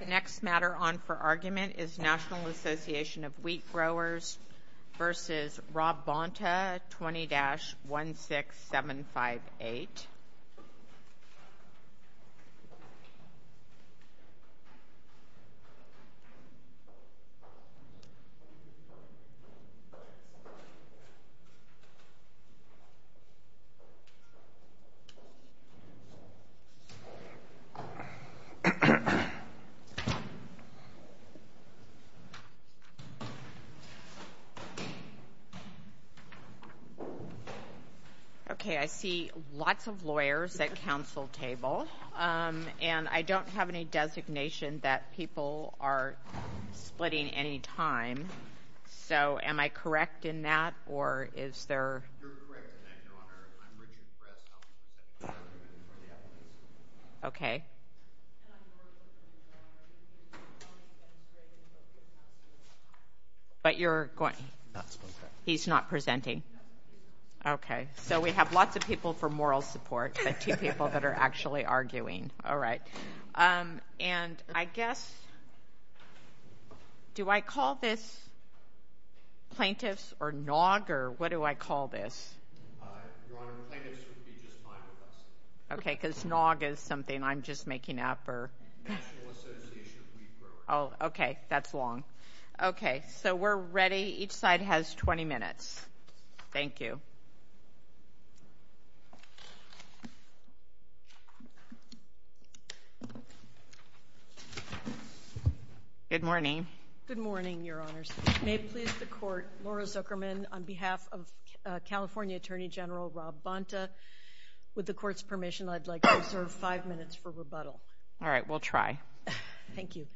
The next matter on for argument is National Association of Wheat Growers v. Rob Bonta Bonta 20-16758 Okay, I see lots of lawyers at council table, and I don't have any designation that people are splitting any time. So, am I correct in that, or is there... You're correct, Your Honor. I'm reading the press conference. Okay. But you're going... He's not presenting. Okay, so we have lots of people for moral support, but two people that are actually arguing. All right. And I guess... Do I call this plaintiffs or NAWG, or what do I call this? Okay, because NAWG is something I'm just making up, or... Oh, okay, that's long. Okay, so we're ready. Each side has 20 minutes. Thank you. Good morning. Good morning, Your Honors. May it please the Court, Laura Zuckerman, on behalf of California Attorney General Rob Bonta, with the Court's permission, I'd like to observe five minutes for rebuttal. All right, we'll try. Thank you.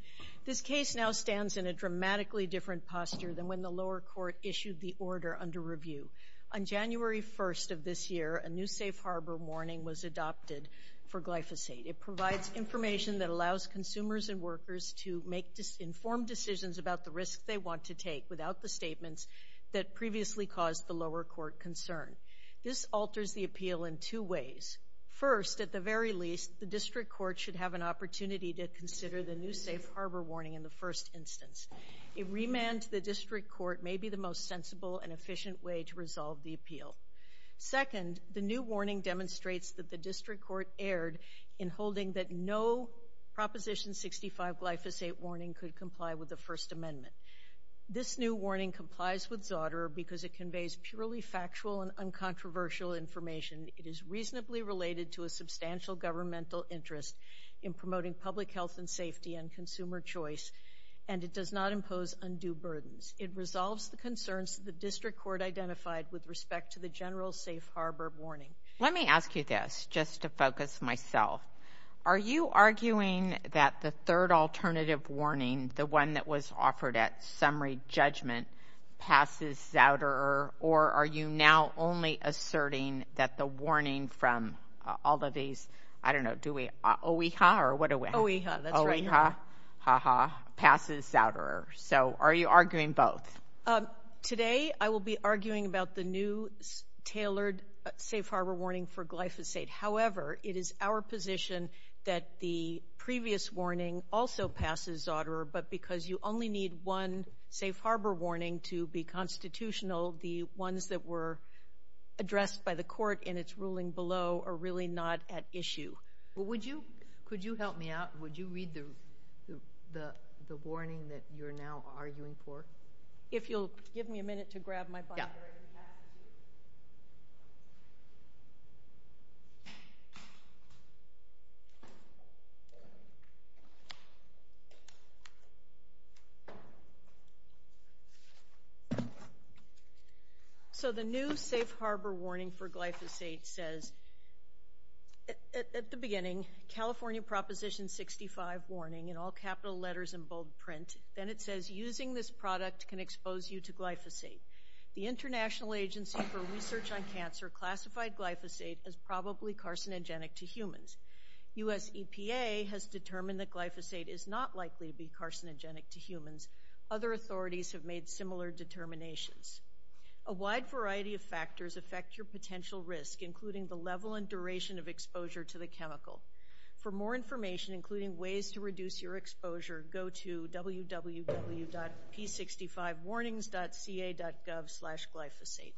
This case now stands in a dramatically different posture than when the lower court issued the order under review. On January 1st of this year, a new safe harbor warning was adopted for glyphosate. It provides information that allows consumers and workers to make informed decisions about the risk they want to take without the statements that previously caused the lower court concern. This alters the appeal in two ways. First, at the very least, the district court should have an opportunity to consider the new safe harbor warning in the first instance. A remand to the district court may be the most sensible and efficient way to resolve the appeal. Second, the new warning demonstrates that the district court erred in holding that no Proposition 65 glyphosate warning could comply with the First Amendment. This new warning complies with Zauderer because it conveys purely factual and uncontroversial information. It is reasonably related to a substantial governmental interest in promoting public health and safety and consumer choice, and it does not impose undue burdens. It resolves the concerns the district court identified with respect to the general safe harbor warning. Let me ask you this, just to focus myself. Are you arguing that the third alternative warning, the one that was offered at summary judgment, passes Zauderer, or are you now only asserting that the warning from OEHA passes Zauderer? Are you arguing both? Today I will be arguing about the new tailored safe harbor warning for glyphosate. However, it is our position that the previous warning also passes Zauderer, but because you only need one safe harbor warning to be constitutional, the ones that were addressed by the court in its ruling below are really not at issue. Could you help me out? Would you read the warning that you're now arguing for? If you'll give me a minute to grab my binder. So the new safe harbor warning for glyphosate says, at the beginning, California Proposition 65 warning in all capital letters in bold print. Then it says, using this product can expose you to glyphosate. The International Agency for Research on Cancer classified glyphosate as probably carcinogenic to humans. US EPA has determined that glyphosate is not likely to be carcinogenic to humans. Other authorities have made similar determinations. A wide variety of factors affect your potential risk, including the level and duration of exposure to the chemical. For more information, including ways to reduce your exposure, go to www.p65warnings.ca.gov slash glyphosate.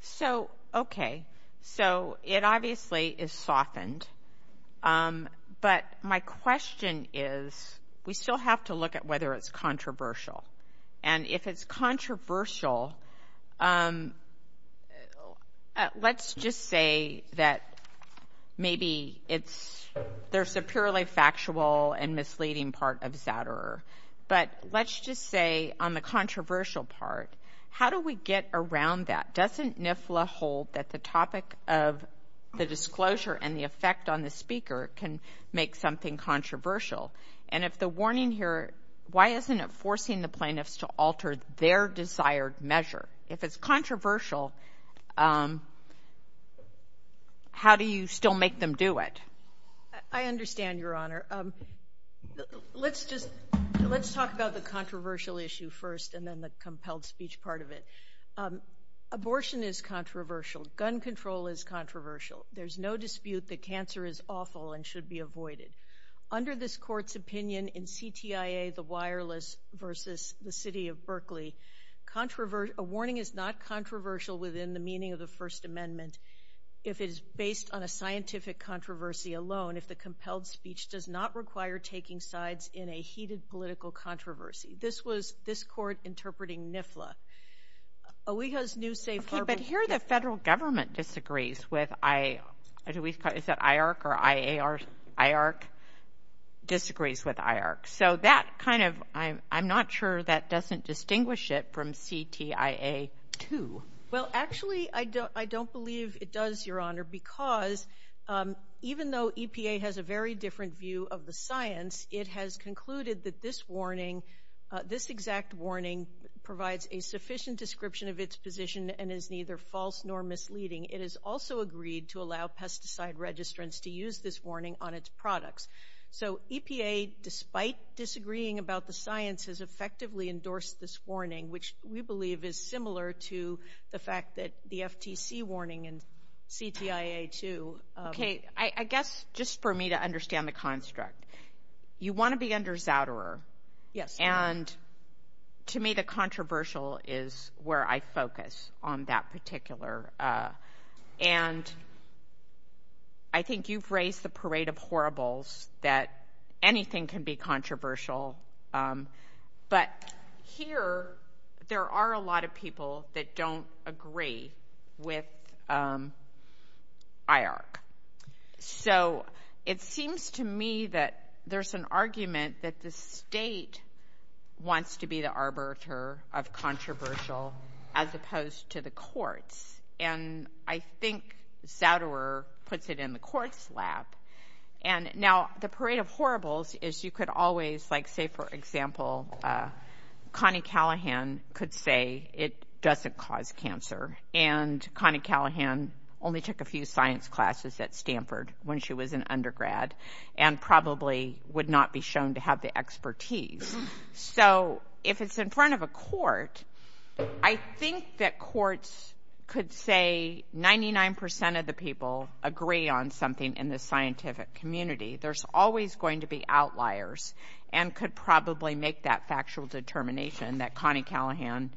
So, okay. So it obviously is softened. But my question is, we still have to look at whether it's controversial. And if it's controversial, let's just say that maybe there's a purely factual and misleading part of Zouderer. But let's just say, on the controversial part, how do we get around that? Doesn't NIFLA hold that the topic of the disclosure and the effect on the speaker can make something controversial? And if the warning here, why isn't it forcing the plaintiffs to alter their desired measure? If it's controversial, how do you still make them do it? I understand, Your Honor. Let's talk about the controversial issue first and then the compelled speech part of it. Abortion is controversial. Gun control is controversial. There's no dispute that cancer is awful and should be avoided. Under this court's opinion in CTIA, the wireless, versus the city of Berkeley, a warning is not controversial within the meaning of the First Amendment if it is based on a scientific controversy alone, if the compelled speech does not require taking sides in a heated political controversy. This was this court interpreting NIFLA. But here the federal government disagrees with IARC. So that kind of, I'm not sure that doesn't distinguish it from CTIA 2. Well, actually, I don't believe it does, Your Honor, because even though EPA has a very different view of the science, it has concluded that this warning, this exact warning, provides a sufficient description of its position and is neither false nor misleading. It has also agreed to allow pesticide registrants to use this warning on its products. So EPA, despite disagreeing about the science, has effectively endorsed this warning, which we believe is similar to the fact that the FTC warning in CTIA 2. Okay. I guess just for me to understand the construct, you want to be under Zouderer. Yes. And to me the controversial is where I focus on that particular. And I think you've raised the parade of horribles that anything can be controversial. But here there are a lot of people that don't agree with IARC. So it seems to me that there's an argument that the state wants to be the arbiter of controversial as opposed to the courts. And I think Zouderer puts it in the courts' lap. Now, the parade of horribles is you could always, like, say, for example, Connie Callahan could say it doesn't cause cancer. And Connie Callahan only took a few science classes at Stanford when she was an undergrad and probably would not be shown to have the expertise. I think that courts could say 99% of the people agree on something in the scientific community. There's always going to be outliers and could probably make that factual determination that Connie Callahan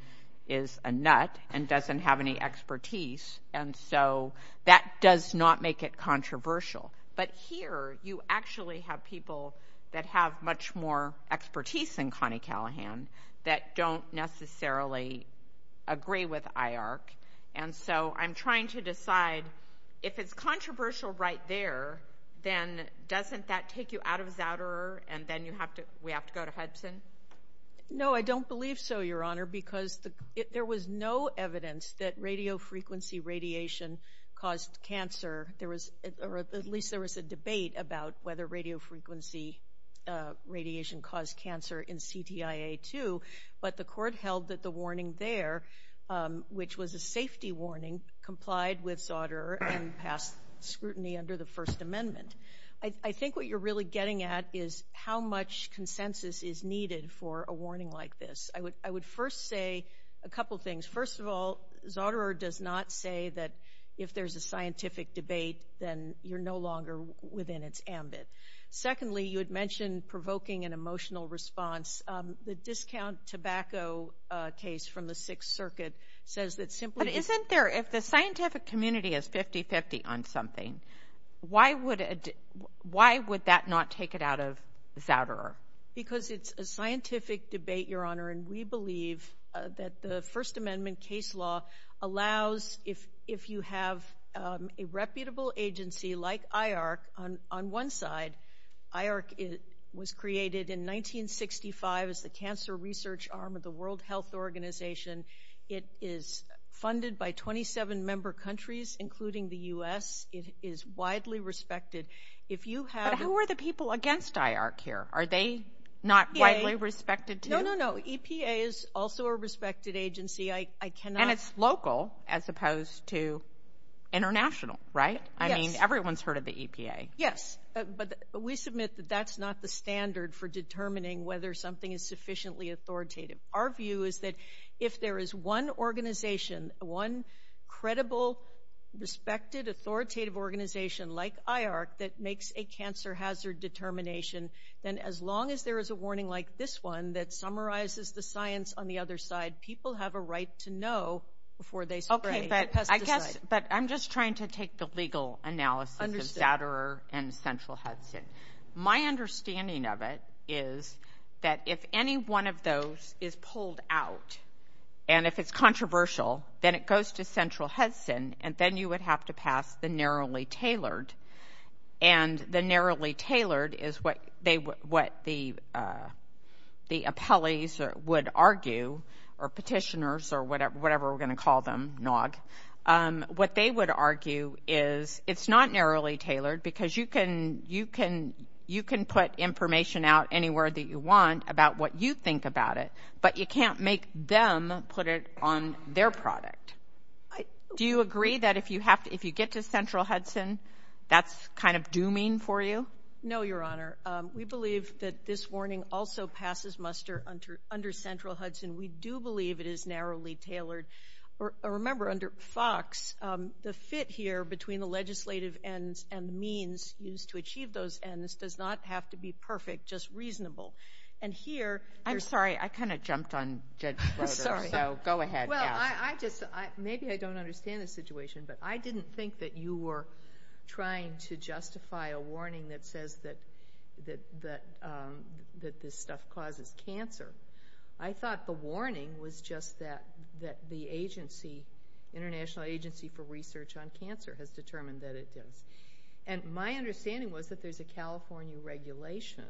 is a nut and doesn't have any expertise. And so that does not make it controversial. But here you actually have people that have much more expertise than Connie Callahan that don't necessarily agree with IARC. And so I'm trying to decide if it's controversial right there, then doesn't that take you out of Zouderer and then we have to go to Hudson? No, I don't believe so, Your Honor, because there was no evidence that radiofrequency radiation caused cancer. At least there was a debate about whether radiofrequency radiation caused cancer in CTIA 2, but the court held that the warning there, which was a safety warning, complied with Zouderer and passed scrutiny under the First Amendment. I think what you're really getting at is how much consensus is needed for a warning like this. I would first say a couple things. First of all, Zouderer does not say that if there's a scientific debate, then you're no longer within its ambit. Secondly, you had mentioned provoking an emotional response. The discount tobacco case from the Sixth Circuit says that simply— But isn't there, if the scientific community is 50-50 on something, why would that not take it out of Zouderer? Because it's a scientific debate, Your Honor, and we believe that the First Amendment case law allows, if you have a reputable agency like IARC on one side— IARC was created in 1965 as the cancer research arm of the World Health Organization. It is funded by 27 member countries, including the U.S. It is widely respected. But who are the people against IARC here? Are they not widely respected, too? No, no, no. EPA is also a respected agency. I cannot— And it's local as opposed to international, right? Yes. I mean, everyone's heard of the EPA. Yes, but we submit that that's not the standard for determining whether something is sufficiently authoritative. Our view is that if there is one organization, one credible, respected, authoritative organization like IARC that makes a cancer hazard determination, then as long as there is a warning like this one that summarizes the science on the other side, people have a right to know before they spray the pesticide. Okay, but I guess—but I'm just trying to take the legal analysis of Zouderer and Central Hudson. My understanding of it is that if any one of those is pulled out, and if it's controversial, then it goes to Central Hudson, and then you would have to pass the narrowly tailored. And the narrowly tailored is what the appellees would argue, or petitioners, or whatever we're going to call them, NOG. What they would argue is it's not narrowly tailored because you can put information out anywhere that you want about what you think about it, but you can't make them put it on their product. Do you agree that if you get to Central Hudson, that's kind of dooming for you? No, Your Honor. We believe that this warning also passes muster under Central Hudson. We do believe it is narrowly tailored. Remember, under FOX, the fit here between the legislative ends and the means used to achieve those ends does not have to be perfect, just reasonable. And here— I'm sorry, I kind of jumped on Judge Zouderer, so go ahead. Well, I just—maybe I don't understand the situation, but I didn't think that you were trying to justify a warning that says that this stuff causes cancer. I thought the warning was just that the International Agency for Research on Cancer has determined that it does. And my understanding was that there's a California regulation,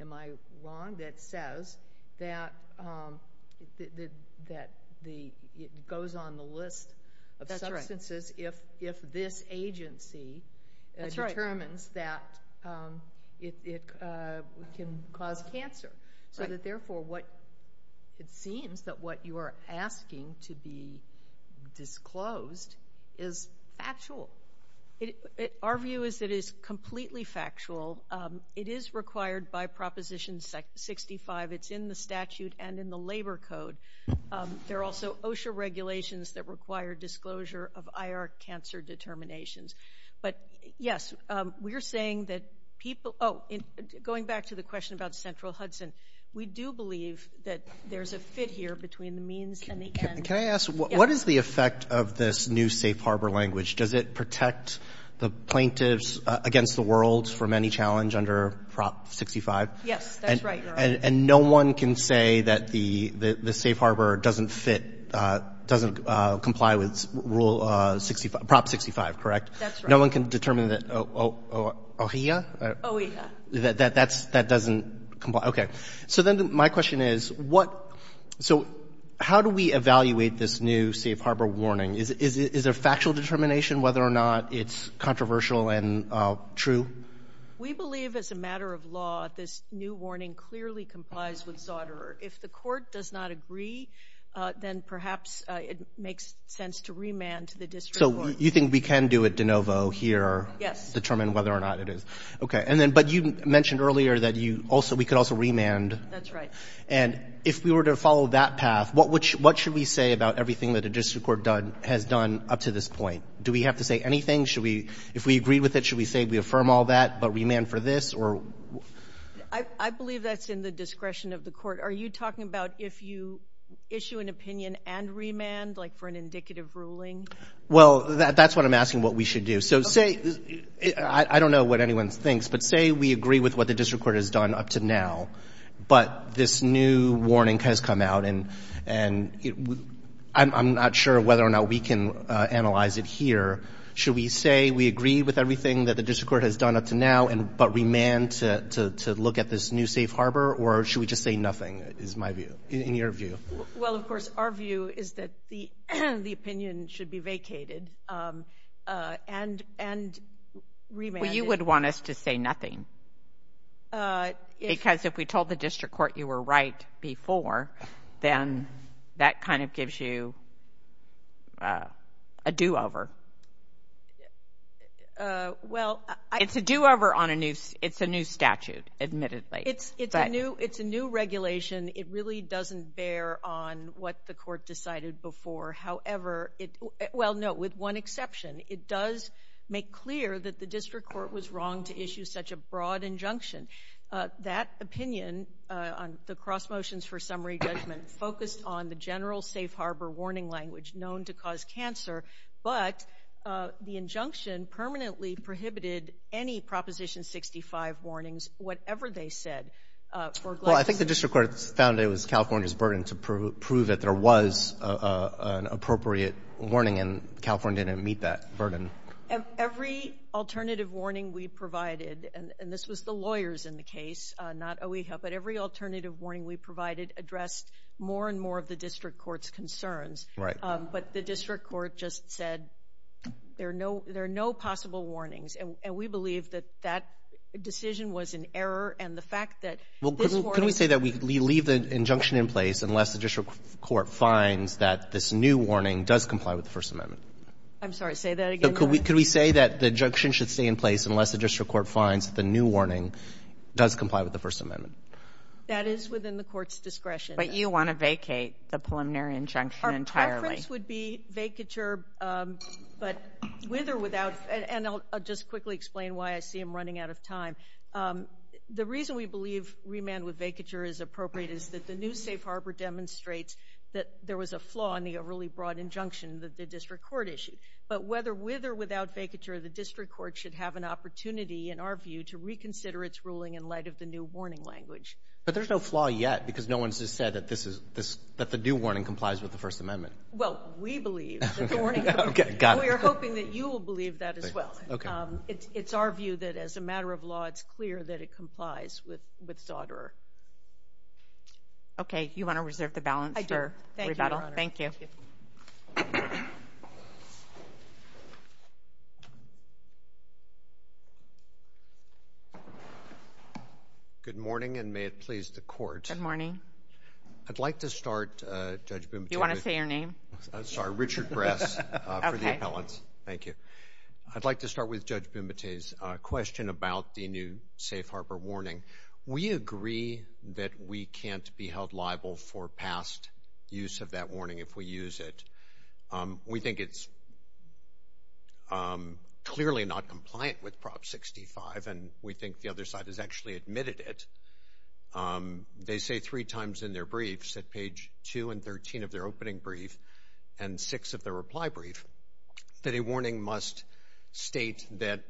am I wrong, that says that it goes on the list of substances if this agency determines that it can cause cancer. So that, therefore, it seems that what you are asking to be disclosed is factual. Our view is that it is completely factual. It is required by Proposition 65. It's in the statute and in the labor code. There are also OSHA regulations that require disclosure of IR cancer determinations. But, yes, we are saying that people—oh, going back to the question about Central Hudson, we do believe that there's a fit here between the means and the ends. Can I ask, what is the effect of this new safe harbor language? Does it protect the plaintiffs against the world from any challenge under Prop 65? Yes, that's right, Your Honor. And no one can say that the safe harbor doesn't fit, doesn't comply with Prop 65, correct? That's right. No one can determine that—O'Hia? O'Hia. That doesn't comply? Okay. So then my question is, what—so how do we evaluate this new safe harbor warning? Is there factual determination whether or not it's controversial and true? We believe, as a matter of law, this new warning clearly complies with Zauderer. If the court does not agree, then perhaps it makes sense to remand to the district court. So you think we can do it de novo here? Yes. Determine whether or not it is. Okay. But you mentioned earlier that we could also remand. That's right. And if we were to follow that path, what should we say about everything that the district court has done up to this point? Do we have to say anything? If we agree with it, should we say we affirm all that but remand for this? I believe that's in the discretion of the court. Are you talking about if you issue an opinion and remand, like for an indicative ruling? Well, that's what I'm asking what we should do. So say—I don't know what anyone thinks, but say we agree with what the district court has done up to now, but this new warning has come out, and I'm not sure whether or not we can analyze it here. Should we say we agree with everything that the district court has done up to now but remand to look at this new safe harbor, or should we just say nothing is my view, in your view? Well, of course, our view is that the opinion should be vacated and remanded. Well, you would want us to say nothing. Because if we told the district court you were right before, then that kind of gives you a do-over. Well— It's a do-over on a new—it's a new statute, admittedly. It's a new regulation. It really doesn't bear on what the court decided before. Well, no, with one exception. It does make clear that the district court was wrong to issue such a broad injunction. That opinion on the cross motions for summary judgment focused on the general safe harbor warning language known to cause cancer, but the injunction permanently prohibited any Proposition 65 warnings, whatever they said. Well, I think the district court found it was California's burden to prove that there was an appropriate warning, and California didn't meet that burden. Every alternative warning we provided—and this was the lawyers in the case, not OEHA— but every alternative warning we provided addressed more and more of the district court's concerns. But the district court just said there are no possible warnings, and we believe that that decision was an error, and the fact that this warning— Well, could we say that we leave the injunction in place unless the district court finds that this new warning does comply with the First Amendment? I'm sorry, say that again? Could we say that the injunction should stay in place unless the district court finds the new warning does comply with the First Amendment? That is within the court's discretion. But you want to vacate the preliminary injunction entirely. The reference would be vacature, but with or without—and I'll just quickly explain why I see him running out of time. The reason we believe remand with vacature is appropriate is that the new safe harbor demonstrates that there was a flaw in the really broad injunction that the district court issued. But whether with or without vacature, the district court should have an opportunity, in our view, to reconsider its ruling in light of the new warning language. But there's no flaw yet because no one's just said that the new warning complies with the First Amendment. Well, we believe that the warning— Okay, got it. We are hoping that you will believe that as well. It's our view that as a matter of law, it's clear that it complies with Sauderer. Okay, you want to reserve the balance for rebuttal? I do. Thank you, Your Honor. Thank you. Thank you. Good morning, and may it please the Court. Good morning. I'd like to start, Judge Bumate— You want to say your name? I'm sorry, Richard Bress, for the appellants. Thank you. I'd like to start with Judge Bumate's question about the new safe harbor warning. We agree that we can't be held liable for past use of that warning if we use it. We think it's clearly not compliant with Prop 65, and we think the other side has actually admitted it. They say three times in their briefs, at page 2 and 13 of their opening brief and 6 of their reply brief, that a warning must state that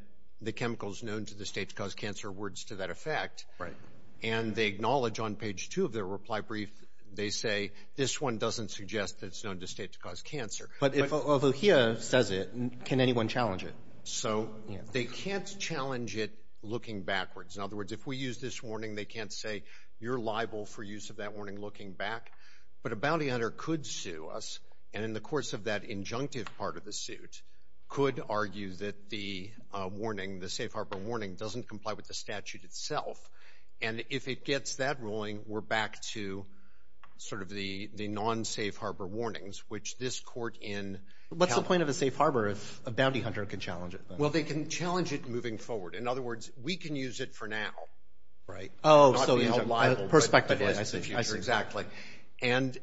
the chemicals known to the state to cause cancer are words to that effect. Right. And they acknowledge on page 2 of their reply brief, they say, this one doesn't suggest that it's known to the state to cause cancer. But if O'Hia says it, can anyone challenge it? So they can't challenge it looking backwards. In other words, if we use this warning, they can't say you're liable for use of that warning looking back. But a bounty hunter could sue us, and in the course of that injunctive part of the suit, could argue that the warning, the safe harbor warning, doesn't comply with the statute itself. And if it gets that ruling, we're back to sort of the non-safe harbor warnings, which this court in California. What's the point of a safe harbor if a bounty hunter can challenge it? Well, they can challenge it moving forward. In other words, we can use it for now. Right. Perspectively. Exactly. And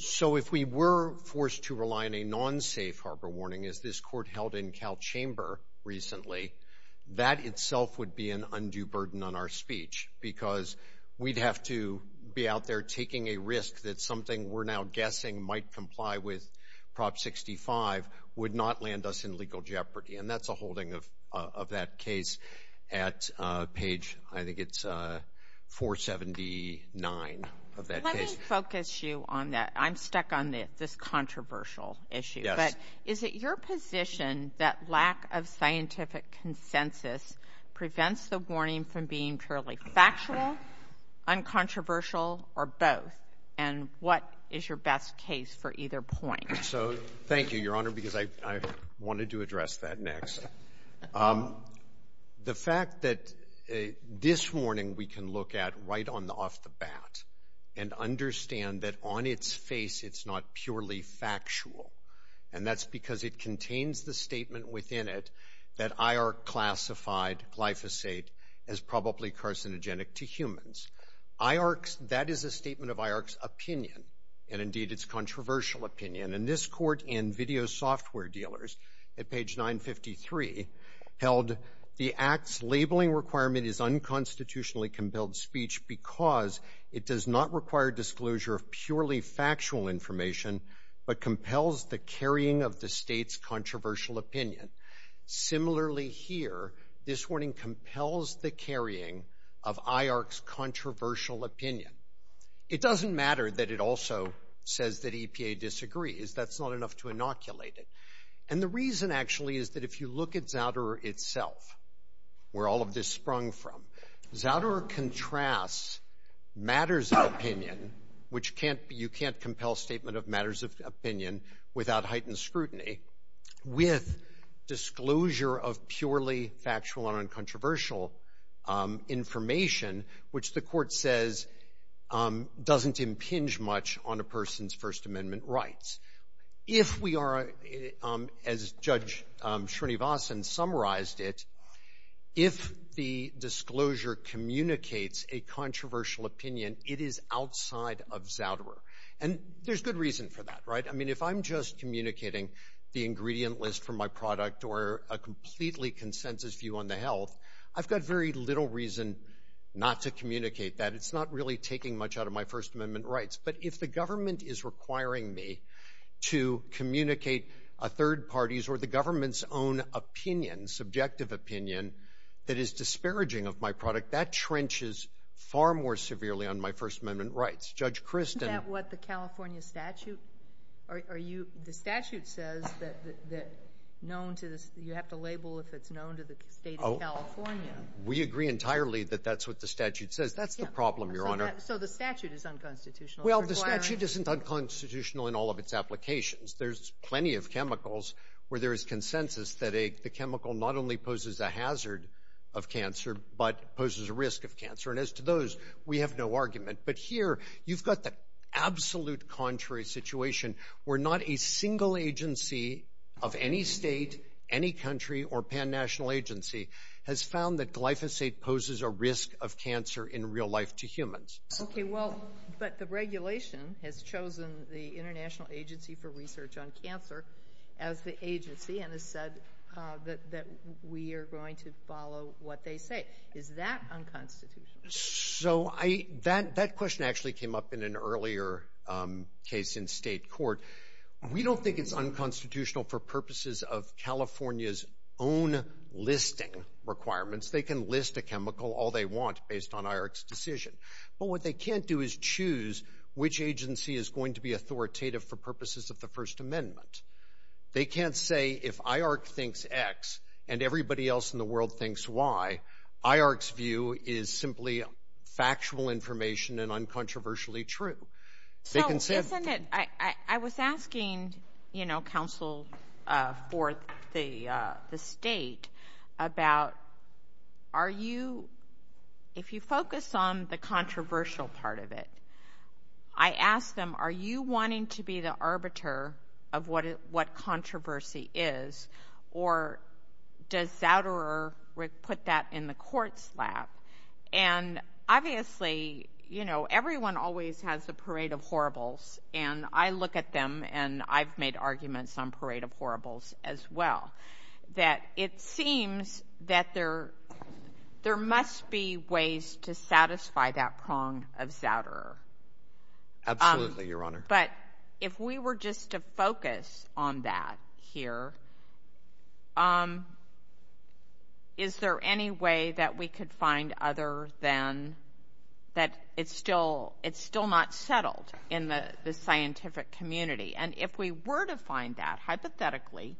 so if we were forced to rely on a non-safe harbor warning, as this court held in Calchamber recently, that itself would be an undue burden on our speech because we'd have to be out there taking a risk that something we're now guessing might comply with Prop 65 would not land us in legal jeopardy. And that's a holding of that case at page, I think it's 479 of that case. Let me focus you on that. I'm stuck on this controversial issue. Yes. But is it your position that lack of scientific consensus prevents the warning from being purely factual, uncontroversial, or both? And what is your best case for either point? So thank you, Your Honor, because I wanted to address that next. The fact that this warning we can look at right off the bat and understand that on its face it's not purely factual, and that's because it contains the statement within it that IARC classified glyphosate as probably carcinogenic to humans. That is a statement of IARC's opinion, and indeed its controversial opinion. And this court and video software dealers at page 953 held, the act's labeling requirement is unconstitutionally compelled speech because it does not require disclosure of purely factual information but compels the carrying of the state's controversial opinion. Similarly here, this warning compels the carrying of IARC's controversial opinion. It doesn't matter that it also says that EPA disagrees. That's not enough to inoculate it. And the reason, actually, is that if you look at Zouderer itself, where all of this sprung from, Zouderer contrasts matters of opinion, which you can't compel statement of matters of opinion without heightened scrutiny, with disclosure of purely factual and uncontroversial information, which the court says doesn't impinge much on a person's First Amendment rights. If we are, as Judge Srinivasan summarized it, if the disclosure communicates a controversial opinion, it is outside of Zouderer. And there's good reason for that, right? I mean, if I'm just communicating the ingredient list for my product or a completely consensus view on the health, I've got very little reason not to communicate that. It's not really taking much out of my First Amendment rights. But if the government is requiring me to communicate a third party's or the government's own opinion, subjective opinion, that is disparaging of my product, that trenches far more severely on my First Amendment rights. Isn't that what the California statute says? You have to label if it's known to the state of California. We agree entirely that that's what the statute says. That's the problem, Your Honor. So the statute is unconstitutional? Well, the statute isn't unconstitutional in all of its applications. There's plenty of chemicals where there is consensus that the chemical not only poses a hazard of cancer but poses a risk of cancer. And as to those, we have no argument. But here you've got the absolute contrary situation where not a single agency of any state, any country, or pan-national agency has found that glyphosate poses a risk of cancer in real life to humans. Okay, well, but the regulation has chosen the International Agency for Research on Cancer as the agency and has said that we are going to follow what they say. Is that unconstitutional? So that question actually came up in an earlier case in state court. We don't think it's unconstitutional for purposes of California's own listing requirements. They can list a chemical all they want based on IARC's decision. But what they can't do is choose which agency is going to be authoritative for purposes of the First Amendment. They can't say if IARC thinks X and everybody else in the world thinks Y, IARC's view is simply factual information and uncontroversially true. So isn't it, I was asking, you know, counsel for the state about are you, if you focus on the controversial part of it, I ask them, are you wanting to be the arbiter of what controversy is or does Zouderer put that in the court's lap? And obviously, you know, everyone always has a parade of horribles, and I look at them and I've made arguments on parade of horribles as well, that it seems that there must be ways to satisfy that prong of Zouderer. Absolutely, Your Honor. But if we were just to focus on that here, is there any way that we could find other than that it's still not settled in the scientific community? And if we were to find that, hypothetically,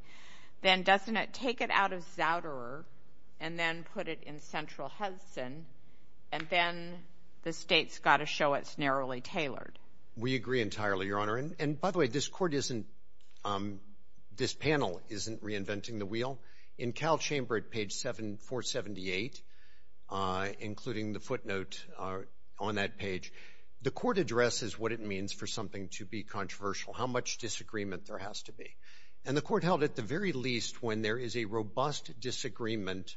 then doesn't it take it out of Zouderer and then put it in central Hudson and then the state's got to show it's narrowly tailored? We agree entirely, Your Honor. And by the way, this court isn't, this panel isn't reinventing the wheel. In Cal Chamber at page 478, including the footnote on that page, the court addresses what it means for something to be controversial, how much disagreement there has to be. And the court held at the very least when there is a robust disagreement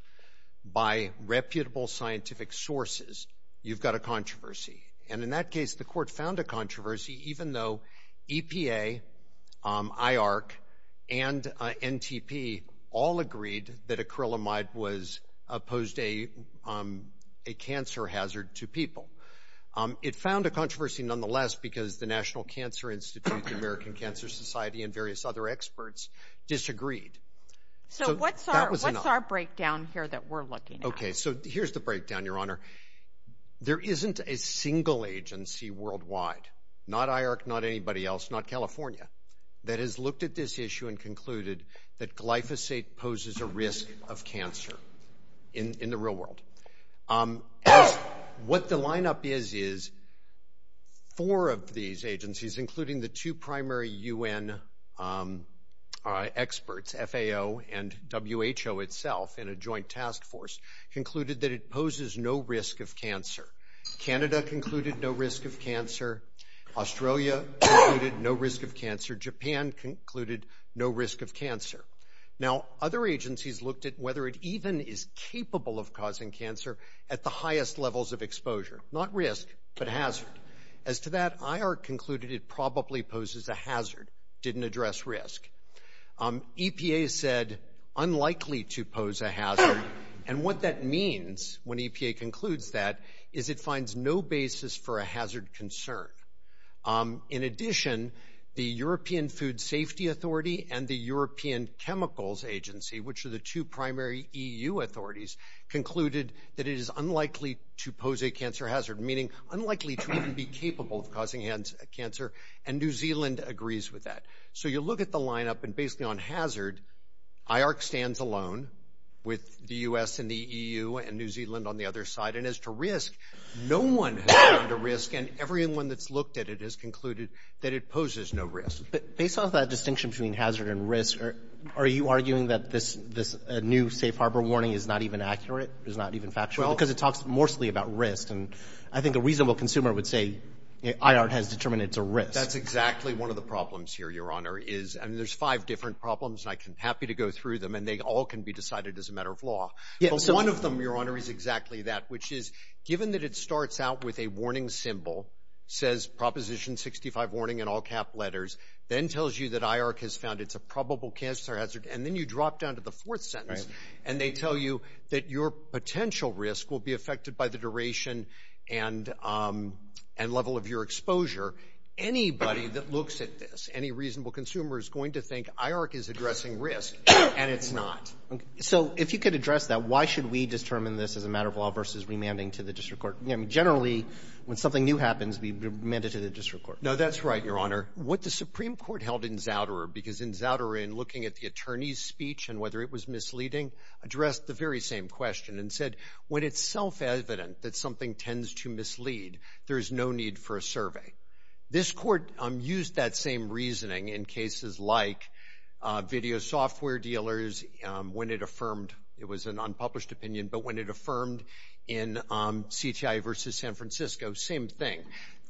by reputable scientific sources, you've got a controversy. And in that case, the court found a controversy even though EPA, IARC, and NTP all agreed that acrylamide posed a cancer hazard to people. It found a controversy nonetheless because the National Cancer Institute, the American Cancer Society, and various other experts disagreed. So what's our breakdown here that we're looking at? Okay, so here's the breakdown, Your Honor. There isn't a single agency worldwide, not IARC, not anybody else, not California, that has looked at this issue and concluded that glyphosate poses a risk of cancer in the real world. What the lineup is is four of these agencies, including the two primary UN experts, FAO and WHO itself in a joint task force, concluded that it poses no risk of cancer. Canada concluded no risk of cancer. Australia concluded no risk of cancer. Japan concluded no risk of cancer. Now, other agencies looked at whether it even is capable of causing cancer at the highest levels of exposure, not risk but hazard. As to that, IARC concluded it probably poses a hazard, didn't address risk. EPA said unlikely to pose a hazard. And what that means, when EPA concludes that, is it finds no basis for a hazard concern. In addition, the European Food Safety Authority and the European Chemicals Agency, which are the two primary EU authorities, concluded that it is unlikely to pose a cancer hazard, meaning unlikely to even be capable of causing cancer, and New Zealand agrees with that. So you look at the lineup, and basically on hazard, IARC stands alone with the U.S. and the EU and New Zealand on the other side. And as to risk, no one has found a risk, and everyone that's looked at it has concluded that it poses no risk. But based on that distinction between hazard and risk, are you arguing that this new safe harbor warning is not even accurate, is not even factual? Because it talks mostly about risk, and I think a reasonable consumer would say IARC has determined it's a risk. That's exactly one of the problems here, Your Honor. And there's five different problems, and I'm happy to go through them, and they all can be decided as a matter of law. But one of them, Your Honor, is exactly that, which is given that it starts out with a warning symbol, says Proposition 65 warning in all-cap letters, then tells you that IARC has found it's a probable cancer hazard, and then you drop down to the fourth sentence, and they tell you that your potential risk will be affected by the duration and level of your exposure. Anybody that looks at this, any reasonable consumer, is going to think IARC is addressing risk, and it's not. So if you could address that, why should we determine this as a matter of law versus remanding to the district court? Generally, when something new happens, we remand it to the district court. No, that's right, Your Honor. What the Supreme Court held in Zauderer, because in Zauderer in looking at the attorney's speech and whether it was misleading, addressed the very same question and said, when it's self-evident that something tends to mislead, there is no need for a survey. This court used that same reasoning in cases like video software dealers, when it affirmed it was an unpublished opinion, but when it affirmed in CTI versus San Francisco, same thing.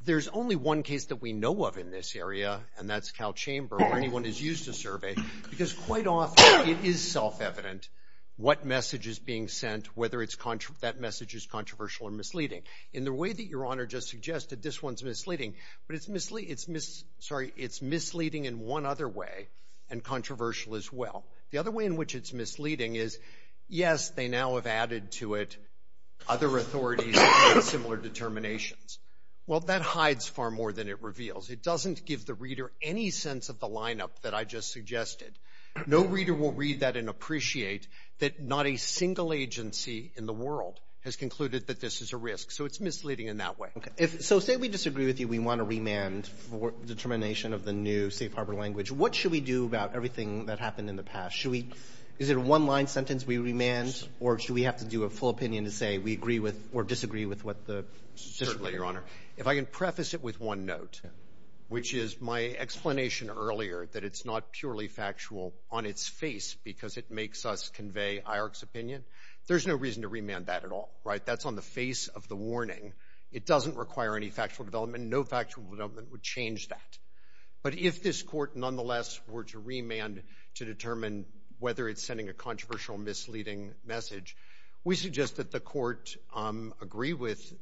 There's only one case that we know of in this area, and that's Calchamber where anyone has used a survey, because quite often it is self-evident what message is being sent, whether that message is controversial or misleading. In the way that Your Honor just suggested, this one's misleading, but it's misleading in one other way and controversial as well. The other way in which it's misleading is, yes, they now have added to it other authorities with similar determinations. Well, that hides far more than it reveals. It doesn't give the reader any sense of the lineup that I just suggested. No reader will read that and appreciate that not a single agency in the world has concluded that this is a risk. So it's misleading in that way. Okay. So say we disagree with you. We want to remand for determination of the new safe harbor language. What should we do about everything that happened in the past? Is it a one-line sentence we remand, or should we have to do a full opinion to say we agree with or disagree with what the decision is? Certainly, Your Honor. If I can preface it with one note, which is my explanation earlier that it's not purely factual on its face because it makes us convey IARC's opinion, there's no reason to remand that at all. That's on the face of the warning. It doesn't require any factual development. No factual development would change that. But if this court nonetheless were to remand to determine whether it's sending a controversial, misleading message, we suggest that the court agree with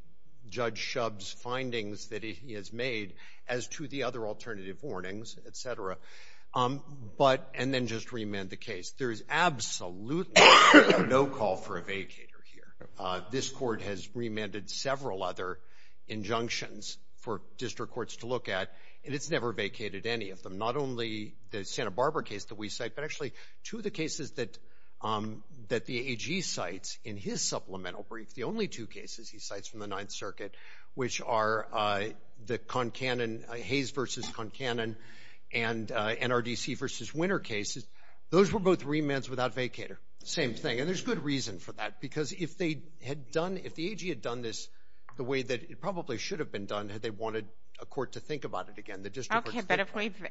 Judge Shub's findings that he has made as to the other alternative warnings, et cetera, and then just remand the case. There is absolutely no call for a vacater here. This court has remanded several other injunctions for district courts to look at, and it's never vacated any of them, not only the Santa Barbara case that we cite, but actually two of the cases that the AG cites in his supplemental brief, the only two cases he cites from the Ninth Circuit, which are the Hayes v. Concanon and NRDC v. Winter cases. Those were both remands without vacater. Same thing. And there's good reason for that because if the AG had done this the way that it probably should have been done had they wanted a court to think about it again, Okay, but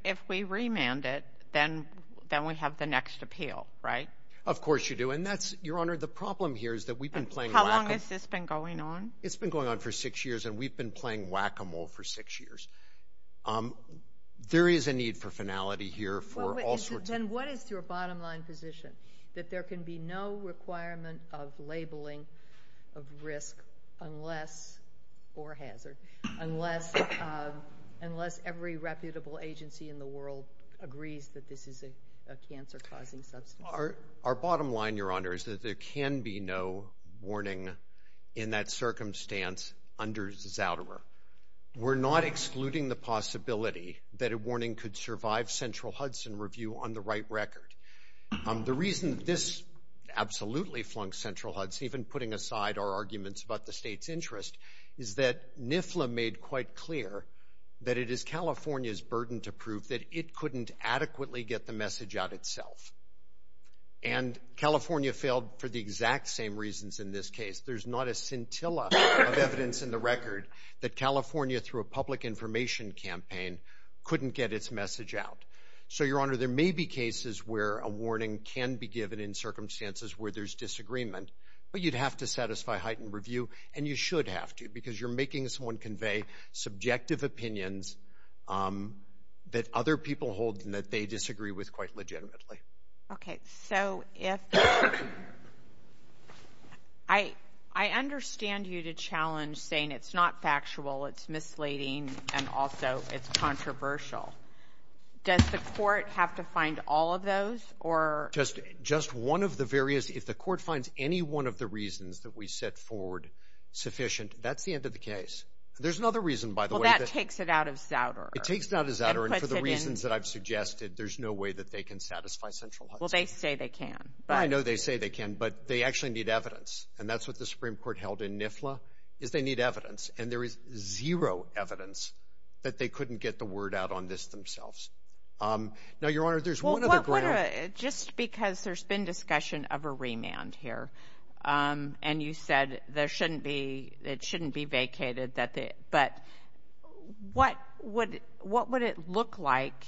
if we remand it, then we have the next appeal, right? Of course you do. Your Honor, the problem here is that we've been playing whack-a-mole. How long has this been going on? It's been going on for six years, and we've been playing whack-a-mole for six years. There is a need for finality here for all sorts of things. Then what is your bottom line position, that there can be no requirement of labeling of risk unless, unless every reputable agency in the world agrees that this is a cancer-causing substance? Our bottom line, Your Honor, is that there can be no warning in that circumstance under Zouderer. We're not excluding the possibility that a warning could survive Central Hudson review on the right record. The reason that this absolutely flunked Central Hudson, even putting aside our arguments about the state's interest, is that NIFLA made quite clear that it is California's burden to prove that it couldn't adequately get the message out itself. And California failed for the exact same reasons in this case. There's not a scintilla of evidence in the record that California, through a public information campaign, couldn't get its message out. So, Your Honor, there may be cases where a warning can be given in circumstances where there's disagreement, but you'd have to satisfy heightened review, and you should have to, because you're making someone convey subjective opinions that other people hold and that they disagree with quite legitimately. Okay, so if... I understand you to challenge saying it's not factual, it's misleading, and also it's controversial. Does the court have to find all of those, or... Just one of the various... If the court finds any one of the reasons that we set forward sufficient, that's the end of the case. There's another reason, by the way... Well, that takes it out of Zouder. It takes it out of Zouder, and for the reasons that I've suggested, there's no way that they can satisfy Central Hudson. Well, they say they can, but... I know they say they can, but they actually need evidence. And that's what the Supreme Court held in NIFLA, is they need evidence. And there is zero evidence that they couldn't get the word out on this themselves. Now, Your Honor, there's one other ground... Just because there's been discussion of a remand here, and you said it shouldn't be vacated, but what would it look like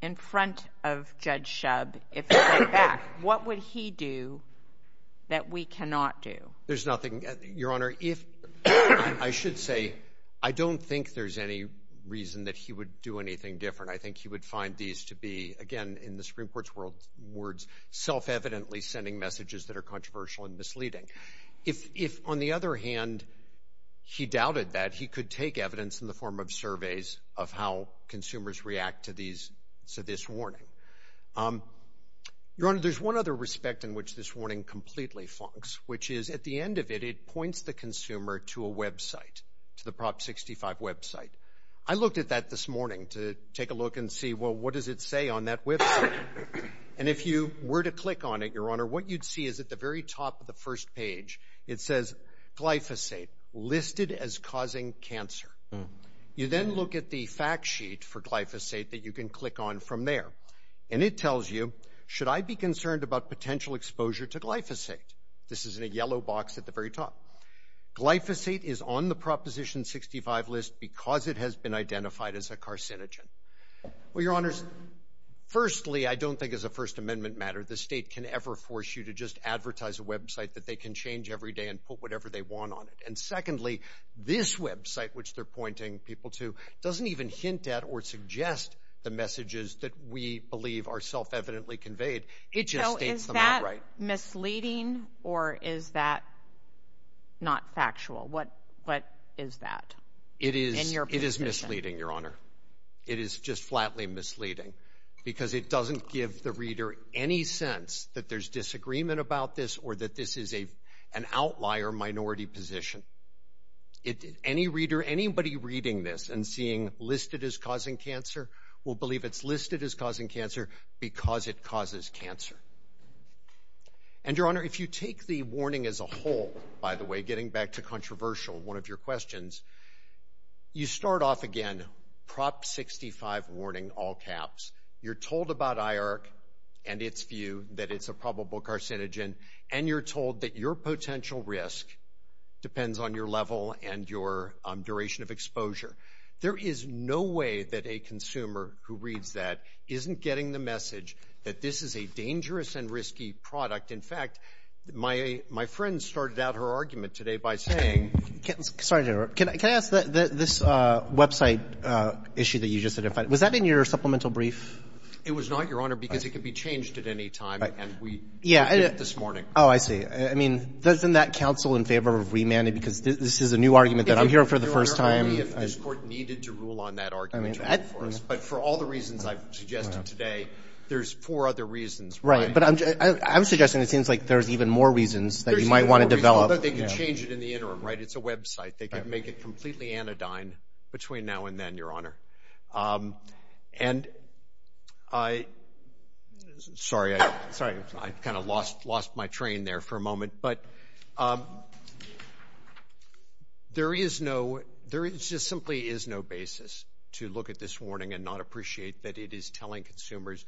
in front of Judge Shub if it went back? What would he do that we cannot do? There's nothing, Your Honor. I should say I don't think there's any reason that he would do anything different. I think he would find these to be, again, in the Supreme Court's words, self-evidently sending messages that are controversial and misleading. If, on the other hand, he doubted that, he could take evidence in the form of surveys of how consumers react to this warning. Your Honor, there's one other respect in which this warning completely flunks, which is at the end of it, it points the consumer to a website, to the Prop 65 website. I looked at that this morning to take a look and see, well, what does it say on that website? And if you were to click on it, Your Honor, what you'd see is at the very top of the first page, it says glyphosate listed as causing cancer. You then look at the fact sheet for glyphosate that you can click on from there, and it tells you, should I be concerned about potential exposure to glyphosate? This is in a yellow box at the very top. Glyphosate is on the Proposition 65 list because it has been identified as a carcinogen. Well, Your Honors, firstly, I don't think as a First Amendment matter, the state can ever force you to just advertise a website that they can change every day and put whatever they want on it. And secondly, this website, which they're pointing people to, doesn't even hint at or suggest the messages that we believe are self-evidently conveyed. So is that misleading or is that not factual? What is that in your position? It is misleading, Your Honor. It is just flatly misleading because it doesn't give the reader any sense that there's disagreement about this or that this is an outlier minority position. Any reader, anybody reading this and seeing listed as causing cancer will believe it's listed as causing cancer because it causes cancer. And, Your Honor, if you take the warning as a whole, by the way, getting back to controversial, one of your questions, you start off again, Prop 65 warning, all caps. You're told about IARC and its view that it's a probable carcinogen, and you're told that your potential risk depends on your level and your duration of exposure. There is no way that a consumer who reads that isn't getting the message that this is a dangerous and risky product. In fact, my friend started out her argument today by saying – Sorry, General. Can I ask this website issue that you just identified, was that in your supplemental brief? It was not, Your Honor, because it could be changed at any time, and we did it this morning. Oh, I see. I mean, doesn't that counsel in favor of remanding, because this is a new argument that I'm hearing for the first time. I'm wondering if this court needed to rule on that argument. But for all the reasons I've suggested today, there's four other reasons. Right. But I'm suggesting it seems like there's even more reasons that you might want to develop. There's even more reasons. Although they could change it in the interim, right? It's a website. They could make it completely anodyne between now and then, Your Honor. And I – sorry, I kind of lost my train there for a moment. But there is no – there just simply is no basis to look at this warning and not appreciate that it is telling consumers,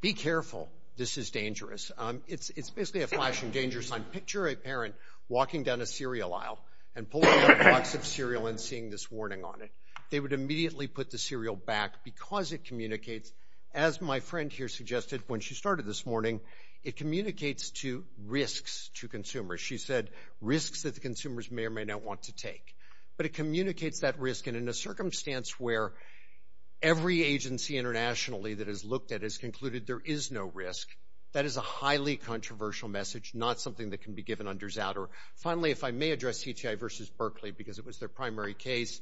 be careful, this is dangerous. It's basically a flashing danger sign. Picture a parent walking down a cereal aisle and pulling out a box of cereal and seeing this warning on it. They would immediately put the cereal back because it communicates, as my friend here suggested when she started this morning, it communicates to risks to consumers. She said risks that the consumers may or may not want to take. But it communicates that risk. And in a circumstance where every agency internationally that has looked at it has concluded there is no risk, that is a highly controversial message, not something that can be given under Zatter. Finally, if I may address CTI v. Berkeley because it was their primary case,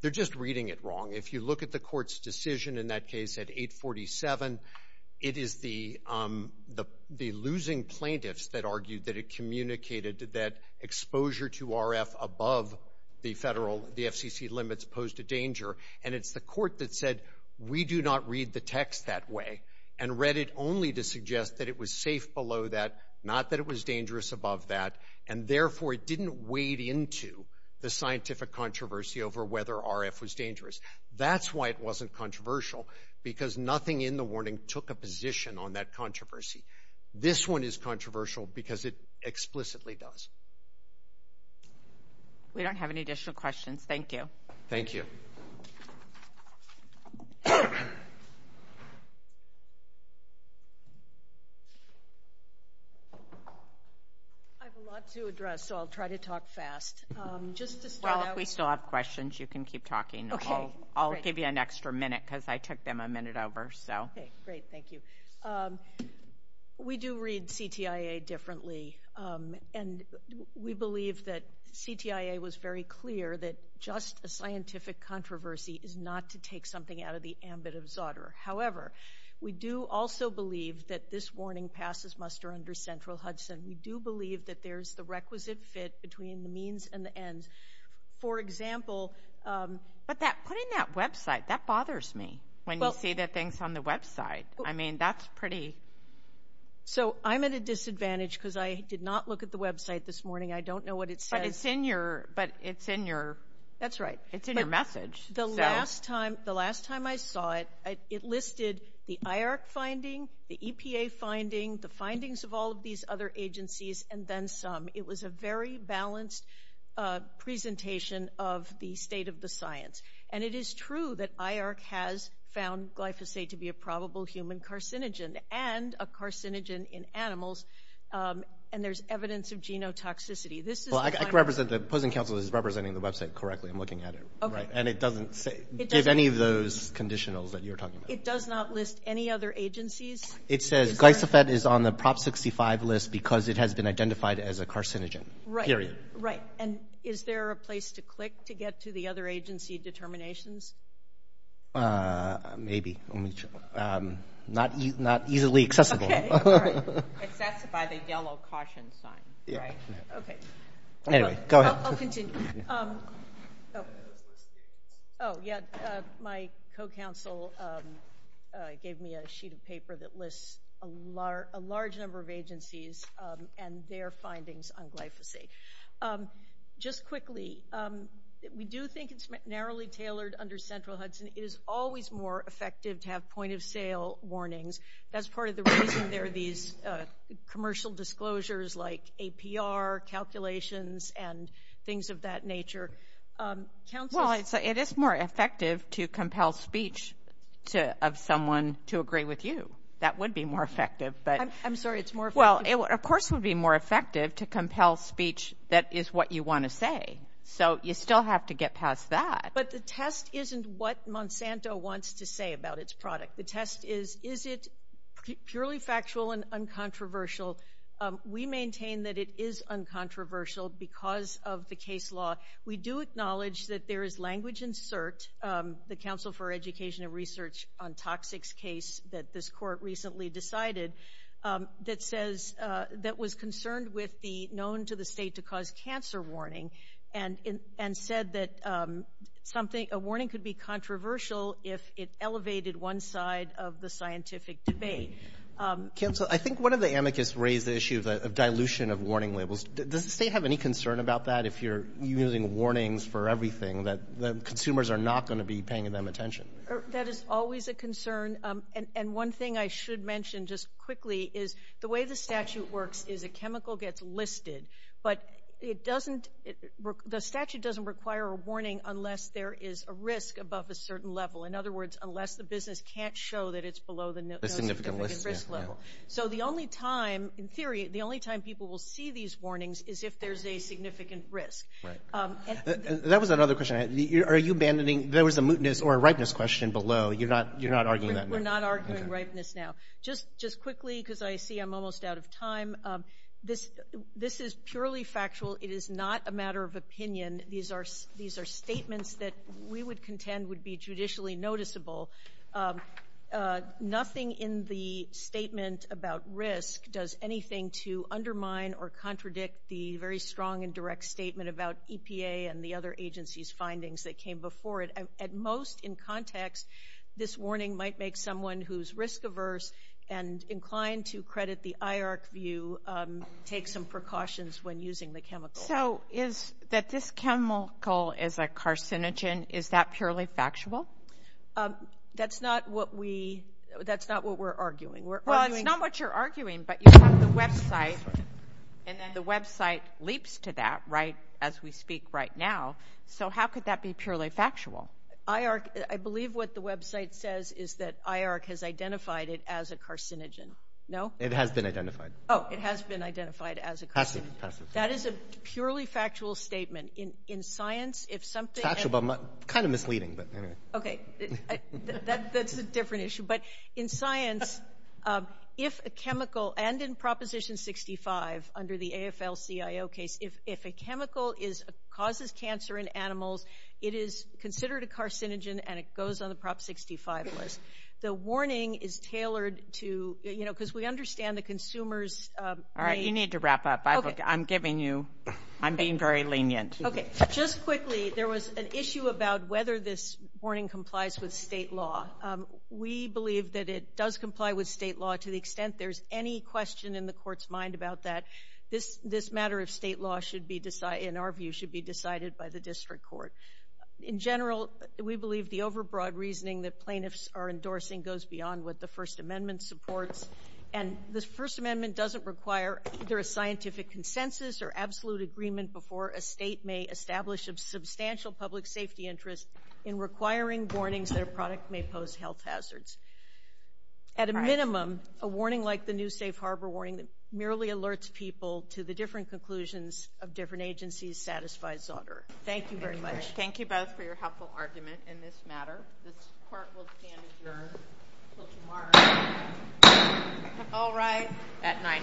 they're just reading it wrong. If you look at the court's decision in that case at 847, it is the losing plaintiffs that argued that it communicated that exposure to RF above the federal – the FCC limits posed a danger. And it's the court that said we do not read the text that way and read it only to suggest that it was safe below that, not that it was dangerous above that, and therefore it didn't wade into the scientific controversy over whether RF was dangerous. That's why it wasn't controversial, because nothing in the warning took a position on that controversy. This one is controversial because it explicitly does. We don't have any additional questions. Thank you. Thank you. Thank you. I have a lot to address, so I'll try to talk fast. Well, if we still have questions, you can keep talking. I'll give you an extra minute because I took them a minute over. Okay, great. Thank you. We do read CTIA differently, and we believe that CTIA was very clear that just a scientific controversy is not to take something out of the ambit of Zotter. However, we do also believe that this warning passes muster under central Hudson. We do believe that there's the requisite fit between the means and the ends. For example – But putting that website, that bothers me when you see the things on the website. I mean, that's pretty – So I'm at a disadvantage because I did not look at the website this morning. I don't know what it says. But it's in your – That's right. It's in your message. The last time I saw it, it listed the IARC finding, the EPA finding, the findings of all of these other agencies, and then some. It was a very balanced presentation of the state of the science. And it is true that IARC has found glyphosate to be a probable human carcinogen, and a carcinogen in animals, and there's evidence of genotoxicity. This is – Well, I can represent – the opposing counsel is representing the website correctly. I'm looking at it. Okay. And it doesn't give any of those conditionals that you're talking about. It does not list any other agencies. It says glyphosate is on the Prop 65 list because it has been identified as a carcinogen. Right. Period. Right. And is there a place to click to get to the other agency determinations? Maybe. Not easily accessible. Okay. Right. Access by the yellow caution sign. Right. Okay. Anyway, go ahead. I'll continue. Oh, yeah, my co-counsel gave me a sheet of paper that lists a large number of agencies and their findings on glyphosate. Just quickly, we do think it's narrowly tailored under Central Hudson. It is always more effective to have point-of-sale warnings. That's part of the reason there are these commercial disclosures like APR calculations and things of that nature. Counsel – Well, it is more effective to compel speech of someone to agree with you. That would be more effective, but – I'm sorry, it's more – Well, of course it would be more effective to compel speech that is what you want to say. So you still have to get past that. But the test isn't what Monsanto wants to say about its product. The test is, is it purely factual and uncontroversial? We maintain that it is uncontroversial because of the case law. We do acknowledge that there is language in CERT, the Council for Education and Research on Toxics case that this court recently decided, that says – that was concerned with the known-to-the-state-to-cause-cancer warning and said that a warning could be controversial if it elevated one side of the scientific debate. Counsel, I think one of the amicus raised the issue of dilution of warning labels. Does the state have any concern about that if you're using warnings for everything, that consumers are not going to be paying them attention? That is always a concern. And one thing I should mention just quickly is the way the statute works is a chemical gets listed, but it doesn't – the statute doesn't require a warning unless there is a risk above a certain level. In other words, unless the business can't show that it's below the significant risk level. So the only time, in theory, the only time people will see these warnings is if there's a significant risk. That was another question I had. Are you abandoning – there was a mootness or a ripeness question below. You're not arguing that now? We're not arguing ripeness now. Just quickly because I see I'm almost out of time, this is purely factual. It is not a matter of opinion. These are statements that we would contend would be judicially noticeable. Nothing in the statement about risk does anything to undermine or contradict the very strong and direct statement about EPA and the other agencies' findings that came before it. At most, in context, this warning might make someone who's risk-averse and inclined to credit the IARC view take some precautions when using the chemical. So is – that this chemical is a carcinogen, is that purely factual? That's not what we – that's not what we're arguing. Well, it's not what you're arguing, but you have the website, and then the website leaps to that, right, as we speak right now. So how could that be purely factual? I believe what the website says is that IARC has identified it as a carcinogen. No? It has been identified. Oh, it has been identified as a carcinogen. Passive. That is a purely factual statement. In science, if something— Factual, but kind of misleading. Okay. That's a different issue. But in science, if a chemical – and in Proposition 65 under the AFL-CIO case, if a chemical causes cancer in animals, it is considered a carcinogen, and it goes on the Prop 65 list. The warning is tailored to – you know, because we understand the consumers— All right. You need to wrap up. I'm giving you – I'm being very lenient. Okay. Just quickly, there was an issue about whether this warning complies with state law. We believe that it does comply with state law to the extent there's any question in the court's mind about that. This matter of state law, in our view, should be decided by the district court. In general, we believe the overbroad reasoning that plaintiffs are endorsing goes beyond what the First Amendment supports. And the First Amendment doesn't require either a scientific consensus or absolute agreement before a state may establish a substantial public safety interest in requiring warnings that a product may pose health hazards. At a minimum, a warning like the New Safe Harbor warning merely alerts people to the different conclusions of different agencies satisfies Zauter. Thank you very much. Thank you both for your helpful argument in this matter. This court will stand adjourned until tomorrow at 9 a.m.